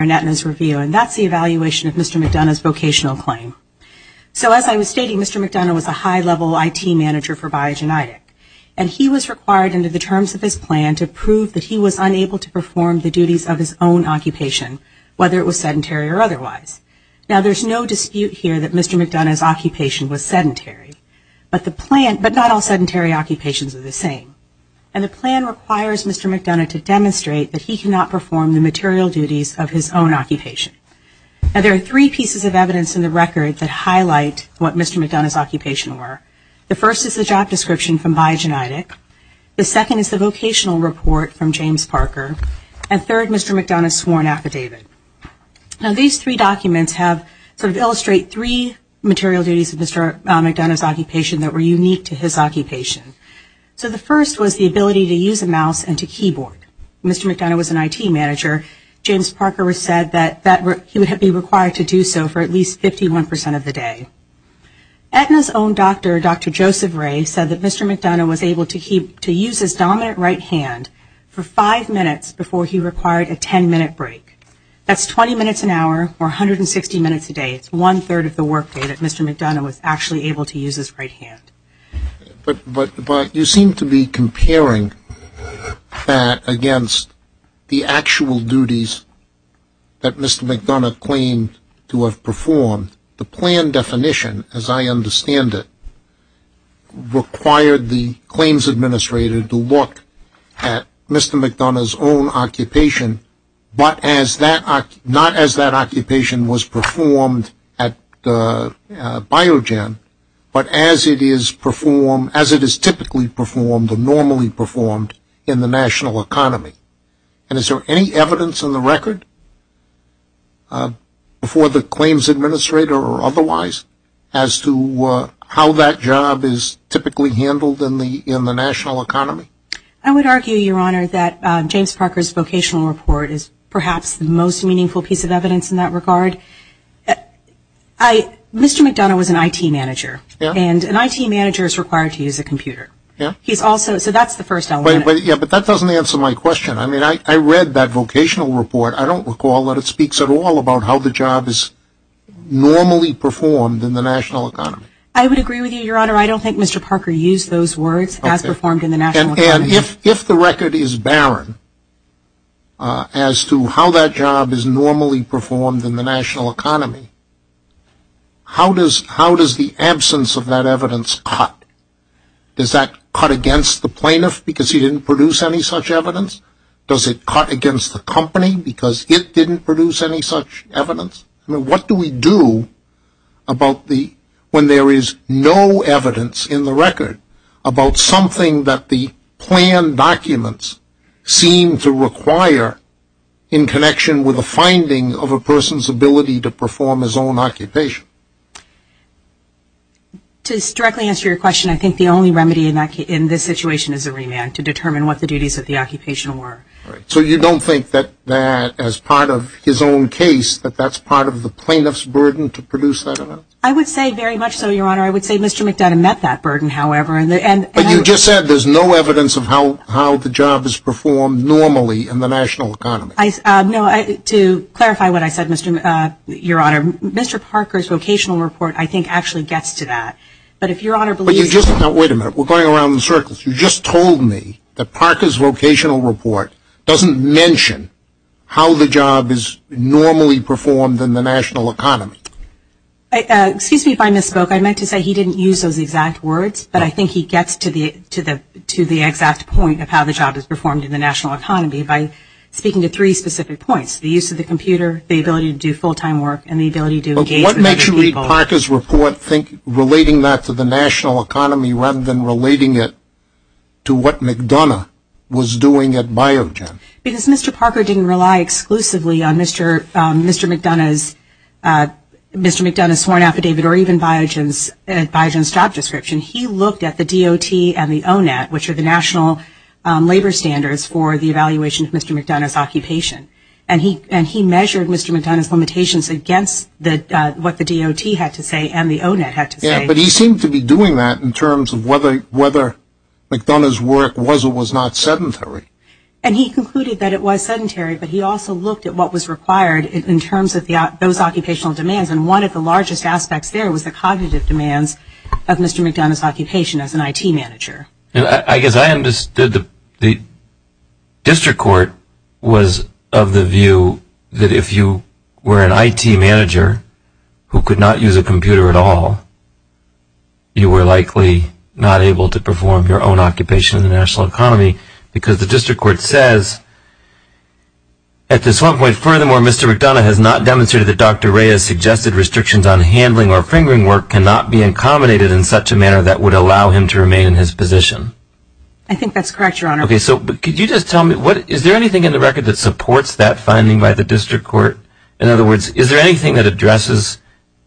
review, and that's the evaluation of Mr. McDonough's vocational claim. So as I was stating, Mr. McDonough was a high-level IT manager for Biogenetic, and he was required under the terms of his plan to prove that he was unable to perform the duties of his own occupation, whether it was sedentary or otherwise. Now, there's no dispute here that Mr. McDonough's occupation was sedentary, but not all sedentary occupations are the same, and the plan requires Mr. McDonough to demonstrate that he cannot perform the duties of his own occupation. Now, there are three pieces of evidence in the record that highlight what Mr. McDonough's occupation were. The first is the job description from Biogenetic, the second is the vocational report from James Parker, and third, Mr. McDonough's sworn affidavit. Now, these three documents have sort of illustrate three material duties of Mr. McDonough's occupation that were unique to his occupation. So the first was the ability to use a mouse and to keyboard. Mr. McDonough was an IT manager. James Parker said that he would be required to do so for at least 51 percent of the day. Aetna's own doctor, Dr. Joseph Ray, said that Mr. McDonough was able to use his dominant right hand for five minutes before he required a ten-minute break. That's 20 minutes an hour, or 160 minutes a day. It's one-third of the workday that Mr. McDonough was actually able to use his right hand. But you seem to be comparing that against the actual duties that Mr. McDonough claimed to have performed. The plan definition, as I understand it, required the claims administrator to look at Mr. McDonough's own occupation, not as that occupation was performed at Biogen, but as it is performed, as it is typically performed or normally performed in the national economy. And is there any evidence in the record before the claims administrator or otherwise as to how that job is typically handled in the national economy? I would argue, Your Honor, that James Parker's vocational report is perhaps the most meaningful piece of evidence in that regard. Mr. McDonough was an IT manager, and an IT manager is required to use a computer. So that's the first element. But that doesn't answer my question. I read that vocational report. I don't recall that it speaks at all about how the job is normally performed in the national economy. I would agree with you, Your Honor. I don't think Mr. Parker used those words, as performed in the national economy. And if the record is barren as to how that job is normally performed in the national economy, how does the absence of that evidence cut? Does that cut against the plaintiff because he didn't produce any such evidence? Does it cut against the company because it didn't produce any such evidence? What do we do when there is no evidence in the record about something that the planned documents seem to require in connection with a finding of a person's ability to perform his own occupation? To directly answer your question, I think the only remedy in this situation is a remand to determine what the duties of the occupation were. So you don't think that, as part of his own case, that that's part of the plaintiff's burden to produce that evidence? I would say very much so, Your Honor. I would say Mr. McDonough met that burden, however. But you just said there's no evidence of how the job is performed normally in the national economy. To clarify what I said, Your Honor, Mr. Parker's vocational report, I think, actually gets to that. But if Your Honor believes... But you just... Now, wait a minute. We're going around in circles. You just told me that Parker's vocational report doesn't mention how the job is normally performed in the national economy. Excuse me if I misspoke. I meant to say he didn't use those exact words, but I think he gets to the exact point of how the job is performed in the national economy by speaking to three specific points. The use of the computer, the ability to do full-time work, and the ability to engage with other people. But what makes you read Parker's report relating that to the national economy rather than relating it to what McDonough was doing at Biogen? Because Mr. Parker didn't rely exclusively on Mr. McDonough's sworn affidavit or even Biogen's job description. He looked at the DOT and the ONET, which are the national labor standards for the evaluation of Mr. McDonough's occupation. And he measured Mr. McDonough's limitations against what the DOT had to say and the ONET had to say. But he seemed to be doing that in terms of whether McDonough's work was or was not sedentary. And he concluded that it was sedentary, but he also looked at what was required in terms of those occupational demands. And one of the largest aspects there was the cognitive demands of Mr. McDonough's occupation as an IT manager. I guess I understood the district court was of the view that if you were an IT manager who could not use a computer at all, you were likely not able to perform your own occupation in the national economy because the district court says, at this one point, furthermore, Mr. McDonough has not demonstrated that Dr. Reyes suggested restrictions on handling or fingering work cannot be accommodated in such a manner that would allow him to remain in his position. I think that's correct, Your Honor. Okay, so could you just tell me, is there anything in the record that supports that thing, that addresses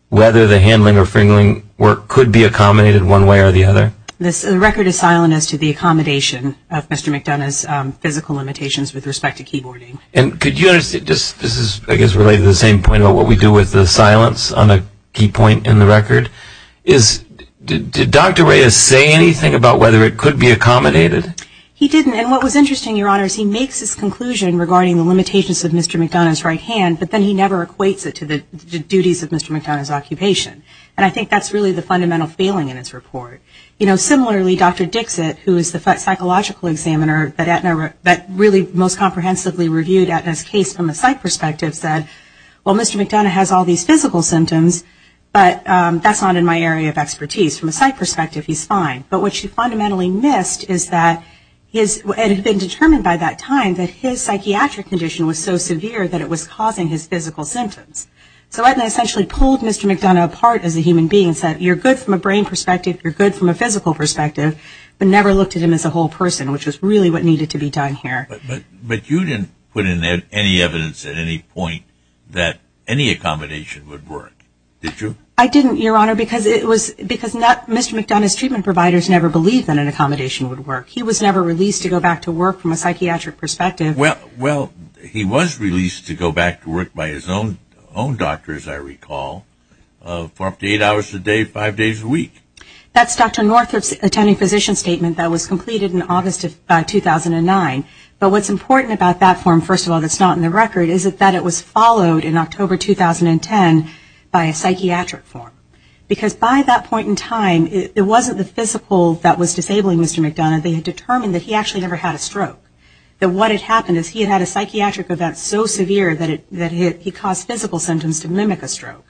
whether the handling or fingering work could be accommodated one way or the other? This record is silent as to the accommodation of Mr. McDonough's physical limitations with respect to keyboarding. And could you understand, this is I guess related to the same point about what we do with the silence on a key point in the record, is did Dr. Reyes say anything about whether it could be accommodated? He didn't. And what was interesting, Your Honor, is he makes this conclusion regarding the limitations of Mr. McDonough's right hand, but then he never equates it to the duties of Mr. McDonough's occupation. And I think that's really the fundamental failing in his report. You know, similarly, Dr. Dixit, who is the psychological examiner that really most comprehensively reviewed Aetna's case from a psych perspective, said, well, Mr. McDonough has all these physical symptoms, but that's not in my area of expertise. From a psych perspective, he's fine. But what she fundamentally missed is that it had been determined by that time that his psychiatric condition was so severe that it was causing his physical symptoms. So Aetna essentially pulled Mr. McDonough apart as a human being and said, you're good from a brain perspective, you're good from a physical perspective, but never looked at him as a whole person, which is really what needed to be done here. But you didn't put in there any evidence at any point that any accommodation would work, did you? I didn't, Your Honor, because it was, because Mr. McDonough's treatment providers never believed that an accommodation would work. He was never released to go back to work from a psychiatric perspective. Well, he was released to go back to work by his own doctor, as I recall, for up to eight hours a day, five days a week. That's Dr. Northrup's attending physician statement that was completed in August of 2009. But what's important about that form, first of all, that's not in the record, is that it was followed in October 2010 by a psychiatric form. Because by that point in time, it wasn't the physical that was disabling Mr. McDonough, they had determined that he actually never had a stroke, that what had happened is he had had a psychiatric event so severe that he caused physical symptoms to mimic a stroke.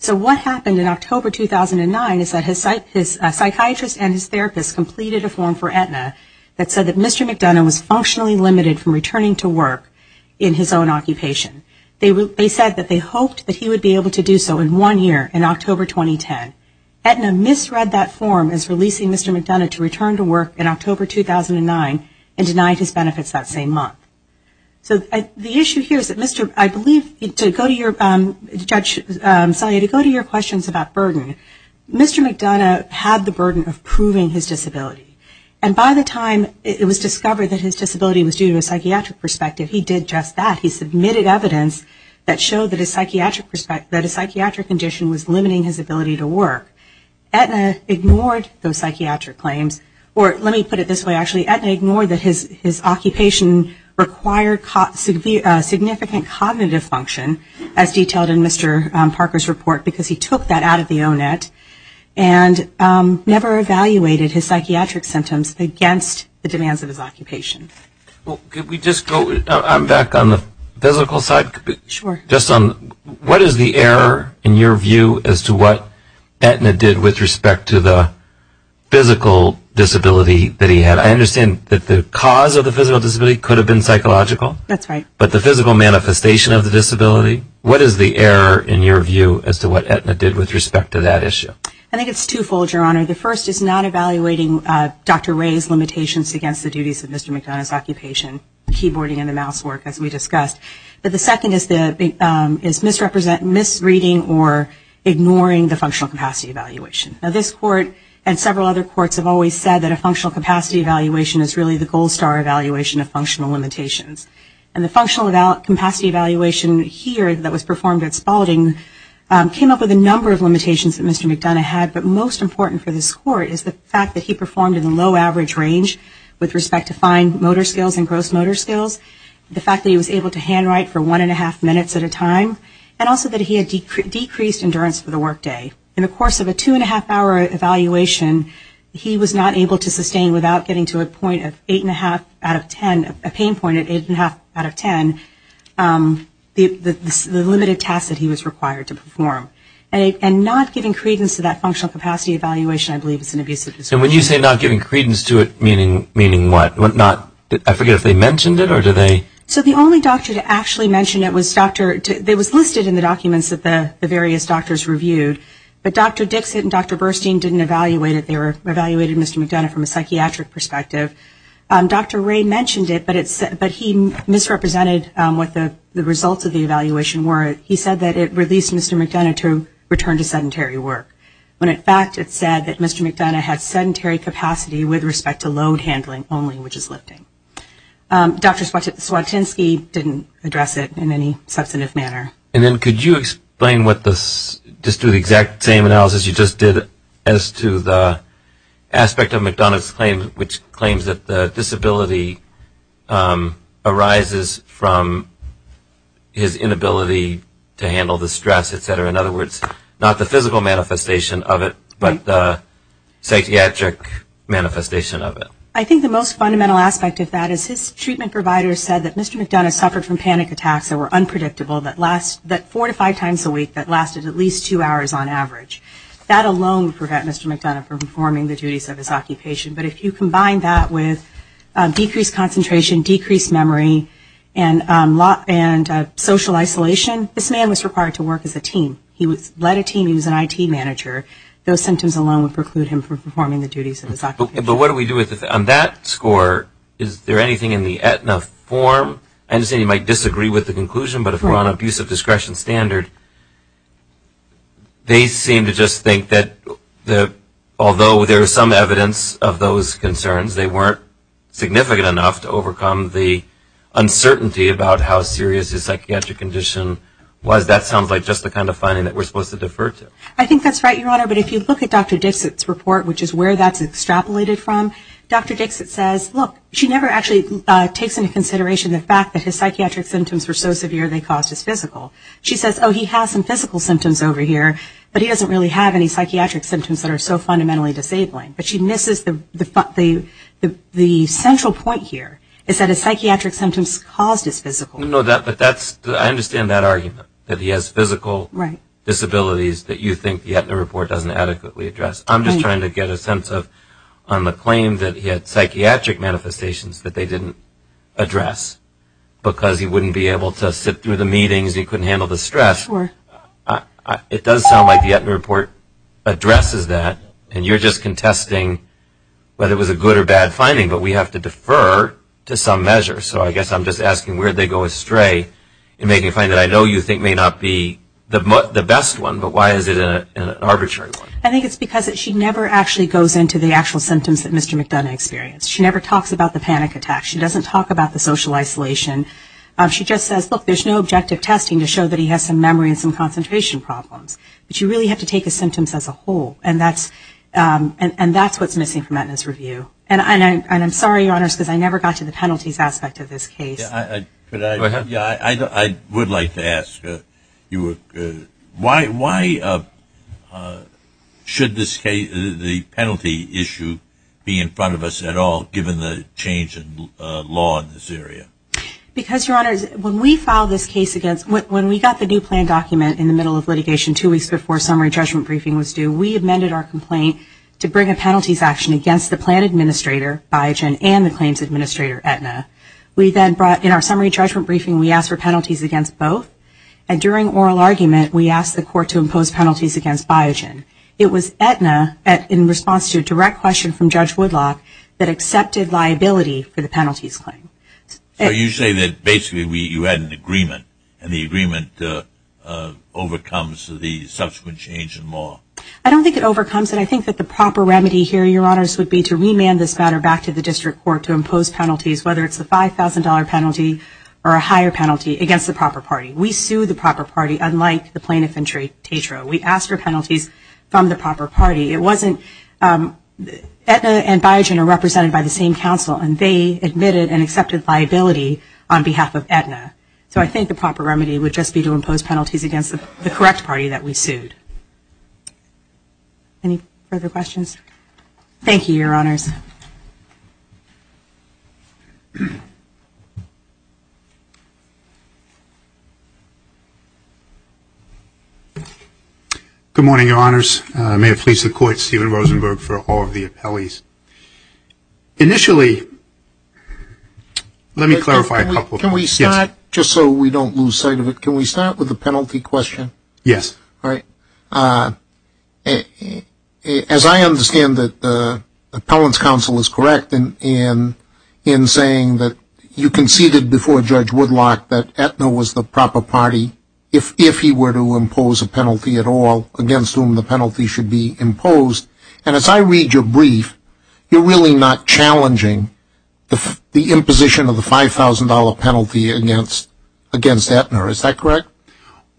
So what happened in October 2009 is that his psychiatrist and his therapist completed a form for Aetna that said that Mr. McDonough was functionally limited from returning to work in his own occupation. They said that they hoped that he would be able to do so in one year, in October 2010. Aetna misread that form as releasing Mr. McDonough to return to work in October 2009 and denied his benefits that same month. So the issue here is that Mr. McDonough had the burden of proving his disability, and by the time it was discovered that his disability was due to a psychiatric perspective, he did just that. He submitted evidence that showed that his psychiatric condition was limiting his ability to work. Aetna ignored those psychiatric claims, or let me put it this way actually, Aetna ignored that his occupation required significant cognitive function as detailed in Mr. Parker's report because he took that out of the O-Net and never evaluated his psychiatric symptoms against the demands of his occupation. Well, could we just go, I'm back on the physical side, just on what is the error in your view as to what Aetna did with respect to the physical disability that he had? I understand that the cause of the physical disability could have been psychological, but the physical manifestation of the disability, what is the error in your view as to what Aetna did with respect to that issue? I think it's twofold, Your Honor. The first is not evaluating Dr. Ray's limitations against the duties of Mr. McDonough's occupation, keyboarding and the mouse work, as we discussed. But the second is misreading or ignoring the functional capacity evaluation. Now, this Court and several other courts have always said that a functional capacity evaluation is really the gold star evaluation of functional limitations. And the functional capacity evaluation here that was performed at Spalding came up with a number of limitations that Mr. McDonough had, but most important for this Court is the fact that he performed in the low average range with respect to fine motor skills and handwriting for one and a half minutes at a time, and also that he had decreased endurance for the workday. In the course of a two and a half hour evaluation, he was not able to sustain without getting to a point of eight and a half out of ten, a pain point of eight and a half out of ten, the limited tasks that he was required to perform. And not giving credence to that functional capacity evaluation, I believe, is an abusive disability. And when you say not giving credence to it, meaning what? I forget if they mentioned it or did they? So the only doctor to actually mention it was listed in the documents that the various doctors reviewed, but Dr. Dixit and Dr. Burstein didn't evaluate it, they evaluated Mr. McDonough from a psychiatric perspective. Dr. Ray mentioned it, but he misrepresented what the results of the evaluation were. He said that it released Mr. McDonough to return to sedentary work, when in fact it said that Mr. McDonough had sedentary capacity with respect to load handling only, which is lifting. Dr. Swatinsky didn't address it in any substantive manner. And then could you explain what this, just do the exact same analysis you just did as to the aspect of McDonough's claim, which claims that the disability arises from his inability to handle the stress, et cetera. In other words, not the physical manifestation of it, but the psychiatric manifestation of it. I think the most fundamental aspect of that is his treatment provider said that Mr. McDonough suffered from panic attacks that were unpredictable, that four to five times a week, that lasted at least two hours on average. That alone would prevent Mr. McDonough from performing the duties of his occupation, but if you combine that with decreased concentration, decreased memory, and social isolation, this man was required to work as a team. He led a team, he was an IT manager, those symptoms alone would preclude him from performing the duties of his occupation. But what do we do with, on that score, is there anything in the Aetna form? I understand you might disagree with the conclusion, but if we're on an abuse of discretion standard, they seem to just think that although there is some evidence of those concerns, they weren't significant enough to overcome the uncertainty about how serious his psychiatric condition was. That sounds like just the kind of finding that we're supposed to defer to. I think that's right, Your Honor. But if you look at Dr. Dixit's report, which is where that's extrapolated from, Dr. Dixit says, look, she never actually takes into consideration the fact that his psychiatric symptoms were so severe they caused his physical. She says, oh, he has some physical symptoms over here, but he doesn't really have any psychiatric symptoms that are so fundamentally disabling. But she misses the central point here, is that his psychiatric symptoms caused his physical. No, but that's, I understand that argument, that he has physical disabilities that you think the Aetna report doesn't adequately address. I'm just trying to get a sense of, on the claim that he had psychiatric manifestations that they didn't address because he wouldn't be able to sit through the meetings, he couldn't handle the stress. It does sound like the Aetna report addresses that, and you're just contesting whether it was a good or bad finding, but we have to defer to some measure. So I guess I'm just asking where they go astray in making a finding that I know you think may not be the best one, but why is it an arbitrary one? I think it's because she never actually goes into the actual symptoms that Mr. McDonough experienced. She never talks about the panic attack. She doesn't talk about the social isolation. She just says, look, there's no objective testing to show that he has some memory and some concentration problems. But you really have to take his symptoms as a whole, and that's what's missing from Aetna's review. And I'm sorry, Your Honors, because I never got to the penalties aspect of this case. I would like to ask you, why should the penalty issue be in front of us at all, given the change in law in this area? Because, Your Honors, when we got the new plan document in the middle of litigation two weeks before summary judgment briefing was due, we amended our complaint to bring a penalties action against the plan administrator, Biogen, and the claims administrator, Aetna. We then brought, in our summary judgment briefing, we asked for penalties against both. And during oral argument, we asked the court to impose penalties against Biogen. It was Aetna, in response to a direct question from Judge Woodlock, that accepted liability for the penalties claim. So you say that basically you had an agreement, and the agreement overcomes the subsequent change in law. I don't think it overcomes it. I think that the proper remedy here, Your Honors, would be to remand this matter back to the district court to impose penalties, whether it's a $5,000 penalty or a higher penalty, against the proper party. We sued the proper party, unlike the plaintiff and traitor. We asked for penalties from the proper party. Aetna and Biogen are represented by the same counsel, and they admitted and accepted liability on behalf of Aetna. So I think the proper remedy would just be to impose penalties against the correct party that we sued. Any further questions? Thank you, Your Honors. Good morning, Your Honors. May it please the Court, Steven Rosenberg for all of the appellees. Initially, let me clarify a couple of things. Yes. Can we start, just so we don't lose sight of it, can we start with the penalty question? Yes. All right. As I understand it, the appellant's counsel is correct in saying that you conceded before Judge Woodlock that Aetna was the proper party, if he were to impose a penalty at all, against whom the penalty should be imposed. And as I read your brief, you're really not challenging the imposition of the $5,000 penalty against Aetna. Is that correct? No.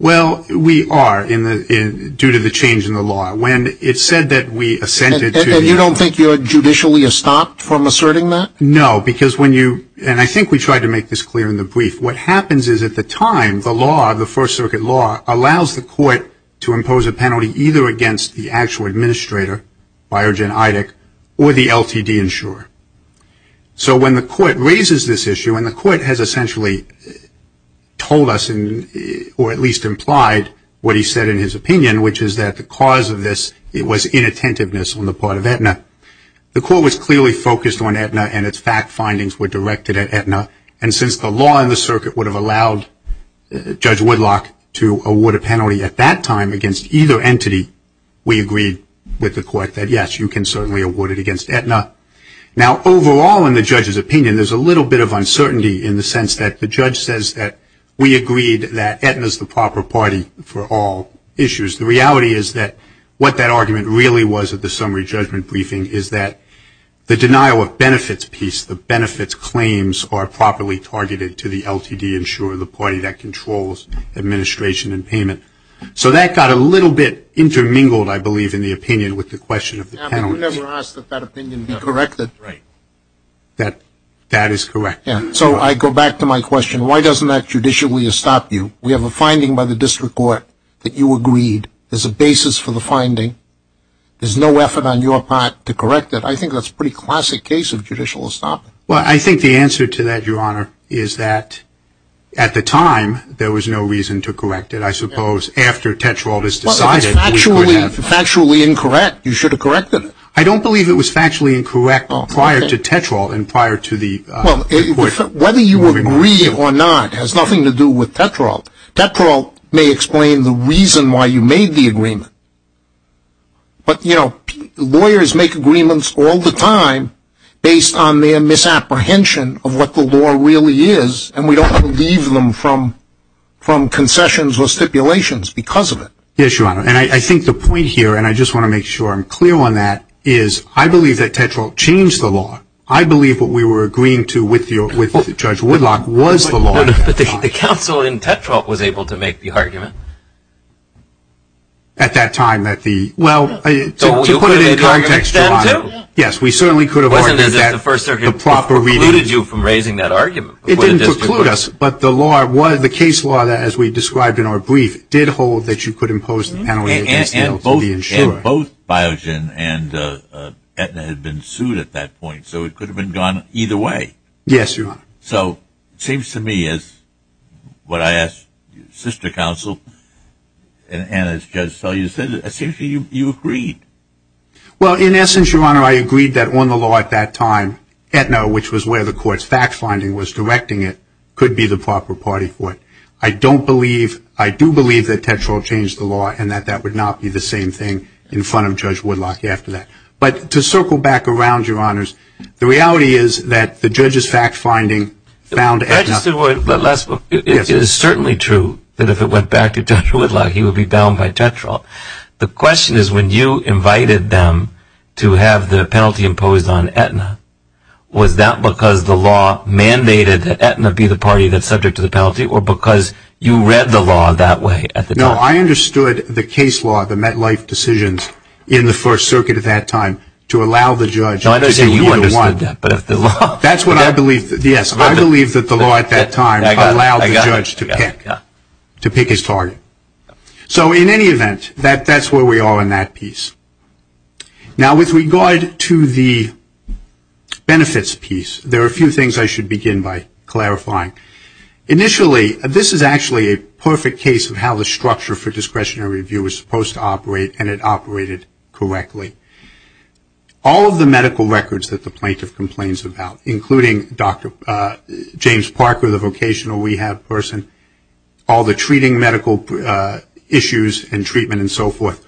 Well, we are, due to the change in the law. When it's said that we assented to the... And you don't think you're judicially estopped from asserting that? No, because when you... And I think we tried to make this clear in the brief. What happens is, at the time, the law, the First Circuit law, allows the court to impose a penalty either against the actual administrator, Biogen Eidig, or the LTD insurer. So when the court raises this issue, and the court has essentially told us, or at least implied what he said in his opinion, which is that the cause of this was inattentiveness on the part of Aetna, the court was clearly focused on Aetna, and its fact findings were directed at Aetna. And since the law in the circuit would have allowed Judge Woodlock to award a penalty at that time against either entity, we agreed with the court that, yes, you can certainly award it against Aetna. Now overall, in the judge's opinion, there's a little bit of uncertainty in the sense that the judge says that we agreed that Aetna's the proper party for all issues. The reality is that what that argument really was at the summary judgment briefing is that the denial of benefits piece, the benefits claims, are properly targeted to the LTD insurer, the party that controls administration and payment. So that got a little bit intermingled, I believe, in the opinion with the question of the penalty. You never asked that that opinion be corrected. That is correct. So I go back to my question, why doesn't that judicially stop you? We have a finding by the district court that you agreed as a basis for the finding. There's no effort on your part to correct it. I think that's a pretty classic case of judicial estoppel. Well, I think the answer to that, Your Honor, is that at the time, there was no reason to correct it. I suppose after Tetrault has decided, we could have. If it's factually incorrect, you should have corrected it. I don't believe it was factually incorrect prior to Tetrault and prior to the report. Whether you agree or not has nothing to do with Tetrault. Tetrault may explain the reason why you made the agreement, but lawyers make agreements all the time based on their misapprehension of what the law really is, and we don't want to leave them from concessions or stipulations because of it. Yes, Your Honor, and I think the point here, and I just want to make sure I'm clear on that, is I believe that Tetrault changed the law. I believe what we were agreeing to with Judge Woodlock was the law. But the counsel in Tetrault was able to make the argument. At that time, at the... Well, to put it in context, Your Honor, yes, we certainly could have argued that the proper reading... It didn't preclude you from raising that argument. It didn't preclude us, but the case law that, as we described in our brief, did hold that you could impose the penalty against the insurer. And both Biogen and Aetna had been sued at that point, so it could have been gone either way. Yes, Your Honor. So, it seems to me, as what I asked your sister counsel, and as Judge Selye said, essentially you agreed. Well, in essence, Your Honor, I agreed that on the law at that time, Aetna, which was where the court's fact-finding was directing it, could be the proper party for it. I don't believe... I do believe that Tetrault changed the law and that that would not be the same thing in front of Judge Woodlock after that. But to circle back around, Your Honors, the reality is that the judge's fact-finding found Aetna... Registered word, the last book. It is certainly true that if it went back to Judge Woodlock, he would be bound by Tetrault. The question is, when you invited them to have the penalty imposed on Aetna, was that because the law mandated that Aetna be the party that's subject to the penalty or because you read the law that way at the time? No, I understood the case law, the MetLife decisions in the First Circuit at that time to allow the judge... No, I'm not saying you understood that, but if the law... That's what I believe. Yes, I believe that the law at that time allowed the judge to pick his target. So in any event, that's where we are in that piece. Now, with regard to the benefits piece, there are a few things I should begin by clarifying. Initially, this is actually a perfect case of how the structure for discretionary review was supposed to operate and it operated correctly. All of the medical records that the plaintiff complains about, including Dr. James Parker, the vocational rehab person, all the treating medical issues and treatment and so forth,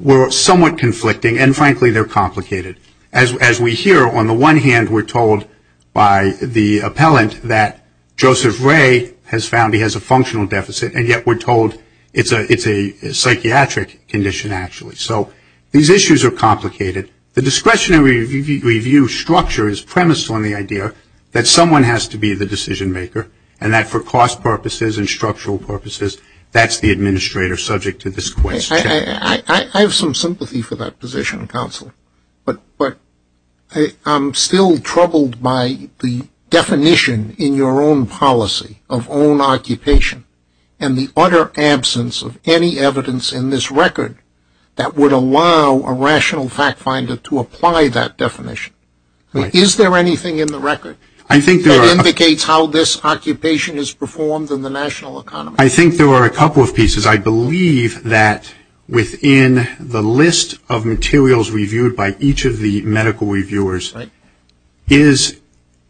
were somewhat conflicting, and frankly, they're complicated. As we hear, on the one hand, we're told by the appellant that Joseph Ray has found he has a functional deficit, and yet we're told it's a psychiatric condition, actually. So these issues are complicated. The discretionary review structure is premised on the idea that someone has to be the decision maker and that for cost purposes and structural purposes, that's the administrator subject to this question. I have some sympathy for that position, counsel, but I'm still troubled by the definition in your own policy of own occupation and the utter absence of any evidence in this record that would allow a rational fact finder to apply that definition. Is there anything in the record that indicates how this occupation is performed in the national economy? I think there are a couple of pieces. I believe that within the list of materials reviewed by each of the medical reviewers is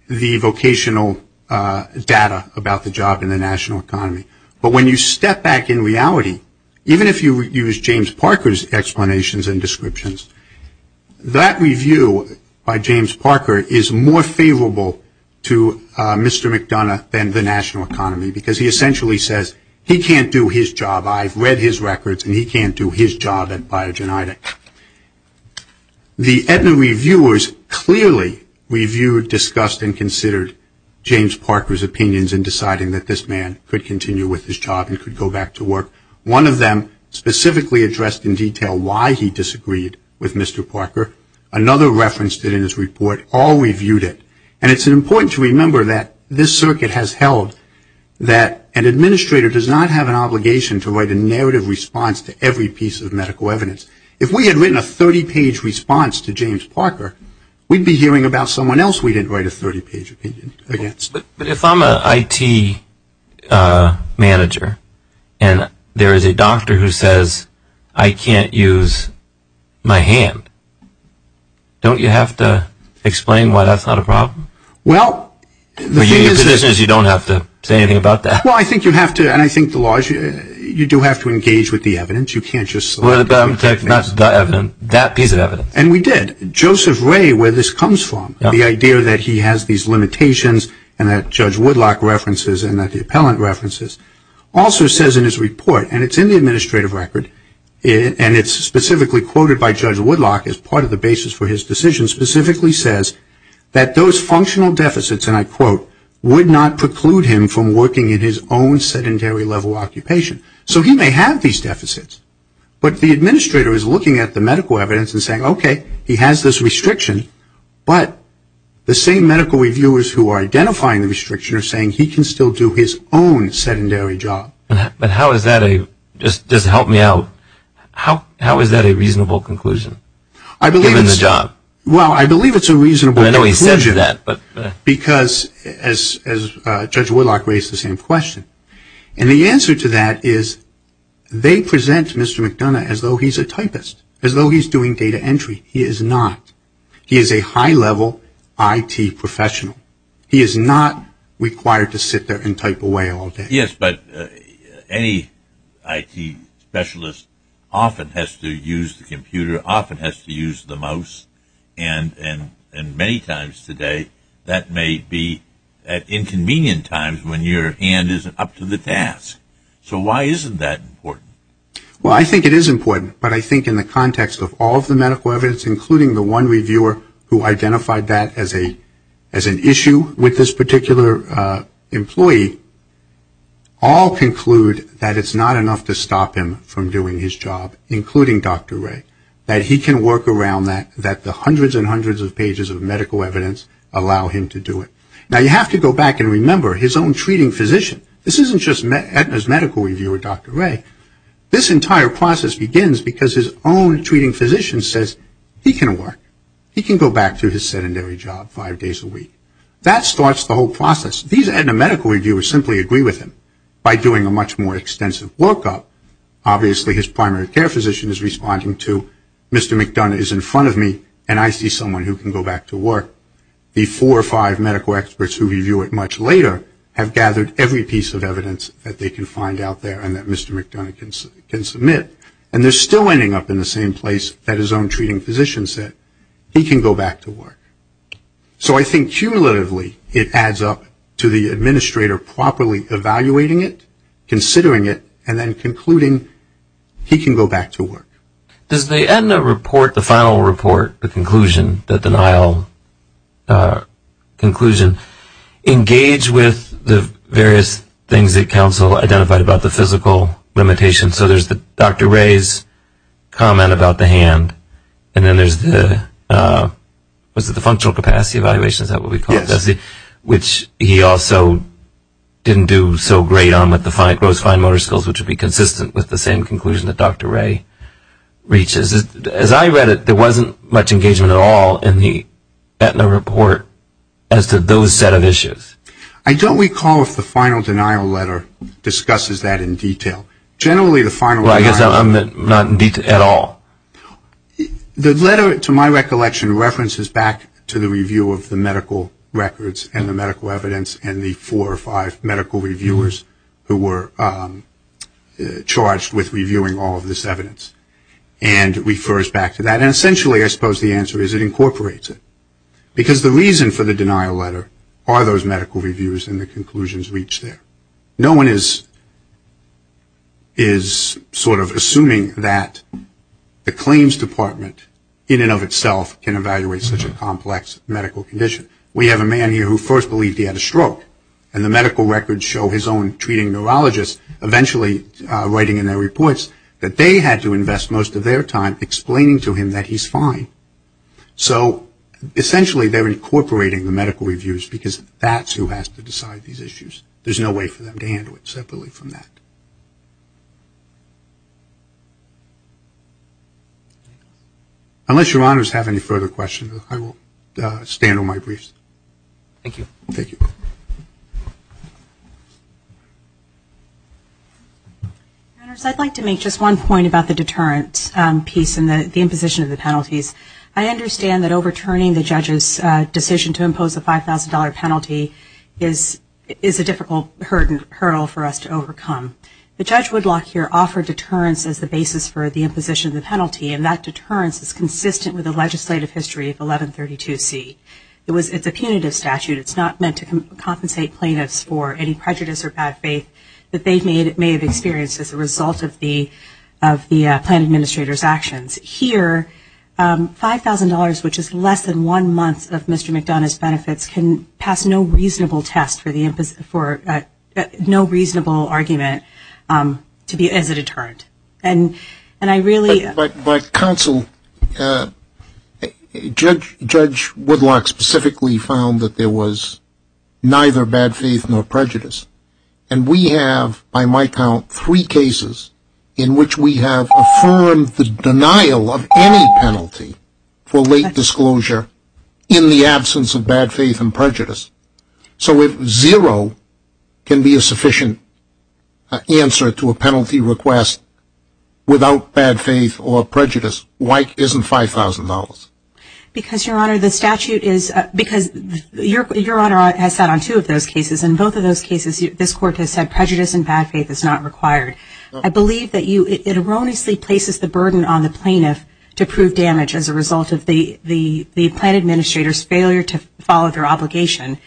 the vocational data about the job in the national economy. But when you step back in reality, even if you use James Parker's explanations and descriptions, that review by James Parker is more favorable to Mr. McDonough than the national economy because he essentially says he can't do his job. I've read his records and he can't do his job at Biogenetic. The Aetna reviewers clearly reviewed, discussed, and considered James Parker's opinions in deciding that this man could continue with his job and could go back to work. One of them specifically addressed in detail why he disagreed with Mr. Parker. Another referenced it in his report. All reviewed it. And it's important to remember that this circuit has held that an administrator does not have an obligation to write a narrative response to every piece of medical evidence. If we had written a 30-page response to James Parker, we'd be hearing about someone else we didn't write a 30-page opinion against. If I'm an IT manager and there is a doctor who says I can't use my hand, don't you have to explain why that's not a problem? Well, the thing is... Your position is you don't have to say anything about that. Well, I think you have to, and I think the law is you do have to engage with the evidence. You can't just... Well, that piece of evidence. And we did. Joseph Ray, where this comes from, the idea that he has these limitations and that Judge Woodlock references and that the appellant references, also says in his report, and it's in the administrative record, and it's specifically quoted by Judge Woodlock as part of the basis for his decision, specifically says that those functional deficits, and I quote, would not preclude him from working in his own sedentary level occupation. So he may have these deficits, but the administrator is looking at the medical evidence and saying, okay, he has this restriction, but the same medical reviewers who are identifying the restriction are saying he can still do his own sedentary job. But how is that a... Just help me out. How is that a reasonable conclusion? Given the job. Well, I believe it's a reasonable conclusion. I know he said that, but... Because, as Judge Woodlock raised the same question, and the answer to that is they present Mr. McDonough as though he's a typist, as though he's doing data entry. He is not. He is a high-level IT professional. He is not required to sit there and type away all day. Yes, but any IT specialist often has to use the computer, often has to use the mouse, and many times today that may be at inconvenient times when your hand isn't up to the task. So why isn't that important? Well, I think it is important, but I think in the context of all of the medical evidence, including the one reviewer who identified that as an issue with this particular employee, all conclude that it's not enough to stop him from doing his job, including Dr. Ray. That he can work around that, that the hundreds and hundreds of pages of medical evidence allow him to do it. Now, you have to go back and remember his own treating physician. This isn't just Edna's medical reviewer, Dr. Ray. This entire process begins because his own treating physician says he can work. He can go back to his sedentary job five days a week. That starts the whole process. These Edna medical reviewers simply agree with him by doing a much more extensive workup. Obviously his primary care physician is responding to Mr. McDonough is in front of me and I see someone who can go back to work. The four or five medical experts who review it much later have gathered every piece of evidence that Dr. McDonough can submit and they're still ending up in the same place that his own treating physician said, he can go back to work. So I think cumulatively it adds up to the administrator properly evaluating it, considering it, and then concluding he can go back to work. Does the Edna report, the final report, the conclusion, the denial conclusion, engage with the various things that counsel identified about the physical limitations? So there's Dr. Ray's comment about the hand and then there's the, was it the functional capacity evaluation, is that what we called it? Which he also didn't do so great on with the gross fine motor skills, which would be consistent with the same conclusion that Dr. Ray reaches. As I read it, there wasn't much engagement at all in the Edna report as to those set of issues. I don't recall if the final denial letter discusses that in detail. Generally the final denial letter... Well, I guess I'm not in detail at all. The letter to my recollection references back to the review of the medical records and the medical evidence and the four or five medical reviewers who were charged with reviewing all of this evidence. And refers back to that and essentially I suppose the answer is it incorporates it. Because the reason for the denial letter are those medical reviews and the conclusions reached there. No one is sort of assuming that the claims department in and of itself can evaluate such a complex medical condition. We have a man here who first believed he had a stroke and the medical records show his own treating neurologist eventually writing in their reports that they had to invest most of their time explaining to him that he's fine. So essentially they're incorporating the medical reviews because that's who has to decide these issues. There's no way for them to handle it separately from that. Unless your honors have any further questions, I will stand on my briefs. Thank you. Thank you. Honors, I'd like to make just one point about the deterrent piece and the imposition of the penalties. I understand that overturning the judge's decision to impose a $5,000 penalty is a difficult hurdle for us to overcome. The judge Woodlock here offered deterrence as the basis for the imposition of the penalty and that deterrence is consistent with the legislative history of 1132C. It's a punitive statute. It's not meant to compensate plaintiffs for any prejudice or bad faith that they may have experienced as a result of the plan administrator's actions. Here, $5,000, which is less than one month of Mr. McDonough's benefits, can pass no reasonable test for the imposition for no reasonable argument to be as a deterrent. And I really By counsel, Judge Woodlock specifically found that there was neither bad faith nor prejudice. And we have, by my count, three cases in which we have affirmed the denial of any penalty for late disclosure in the absence of bad faith and prejudice. So if zero can be a sufficient answer to a penalty request without bad faith or prejudice, why isn't $5,000? Because Your Honor, the statute is, because Your Honor has sat on two of those cases and both of those cases this Court has said prejudice and bad faith is not required. I believe that it erroneously places the burden on the plaintiff to prove damage as a result of the plan administrator's failure to follow their obligation.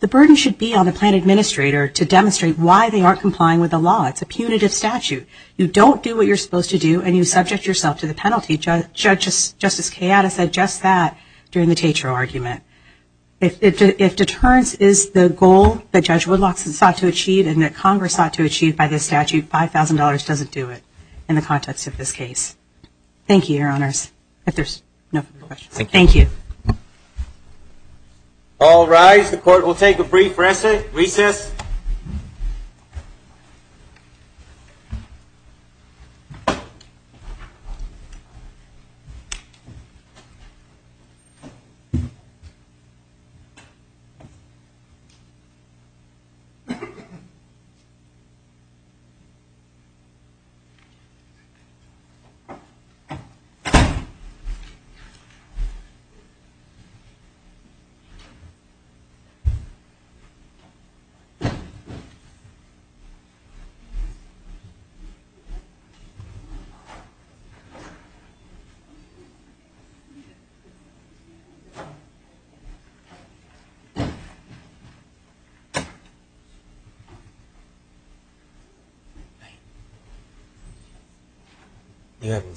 The burden should be on the plan administrator to demonstrate why they aren't complying with the law. It's a punitive statute. You don't do what you're supposed to do and you subject yourself to the penalty. Justice Kayatta said just that during the Tatro argument. If deterrence is the goal that Judge Woodlock sought to achieve and that Congress sought to achieve by this statute, $5,000 doesn't do it in the context of this case. Thank you, Your Honors. If there's no further questions, thank you. All rise. The Court will take a brief recess.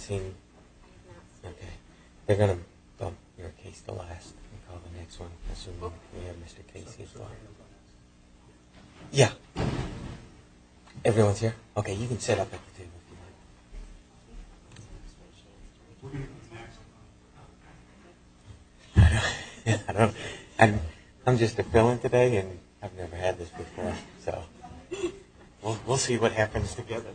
Okay. They're going to bump your case to last and call the next one assuming we have Mr. Casey's line. Yeah. Everyone's here? Okay. You can sit up at the table if you'd like. We're going to come back. I'm just a felon today and I've never had this before, so we'll see what happens together. Thank you.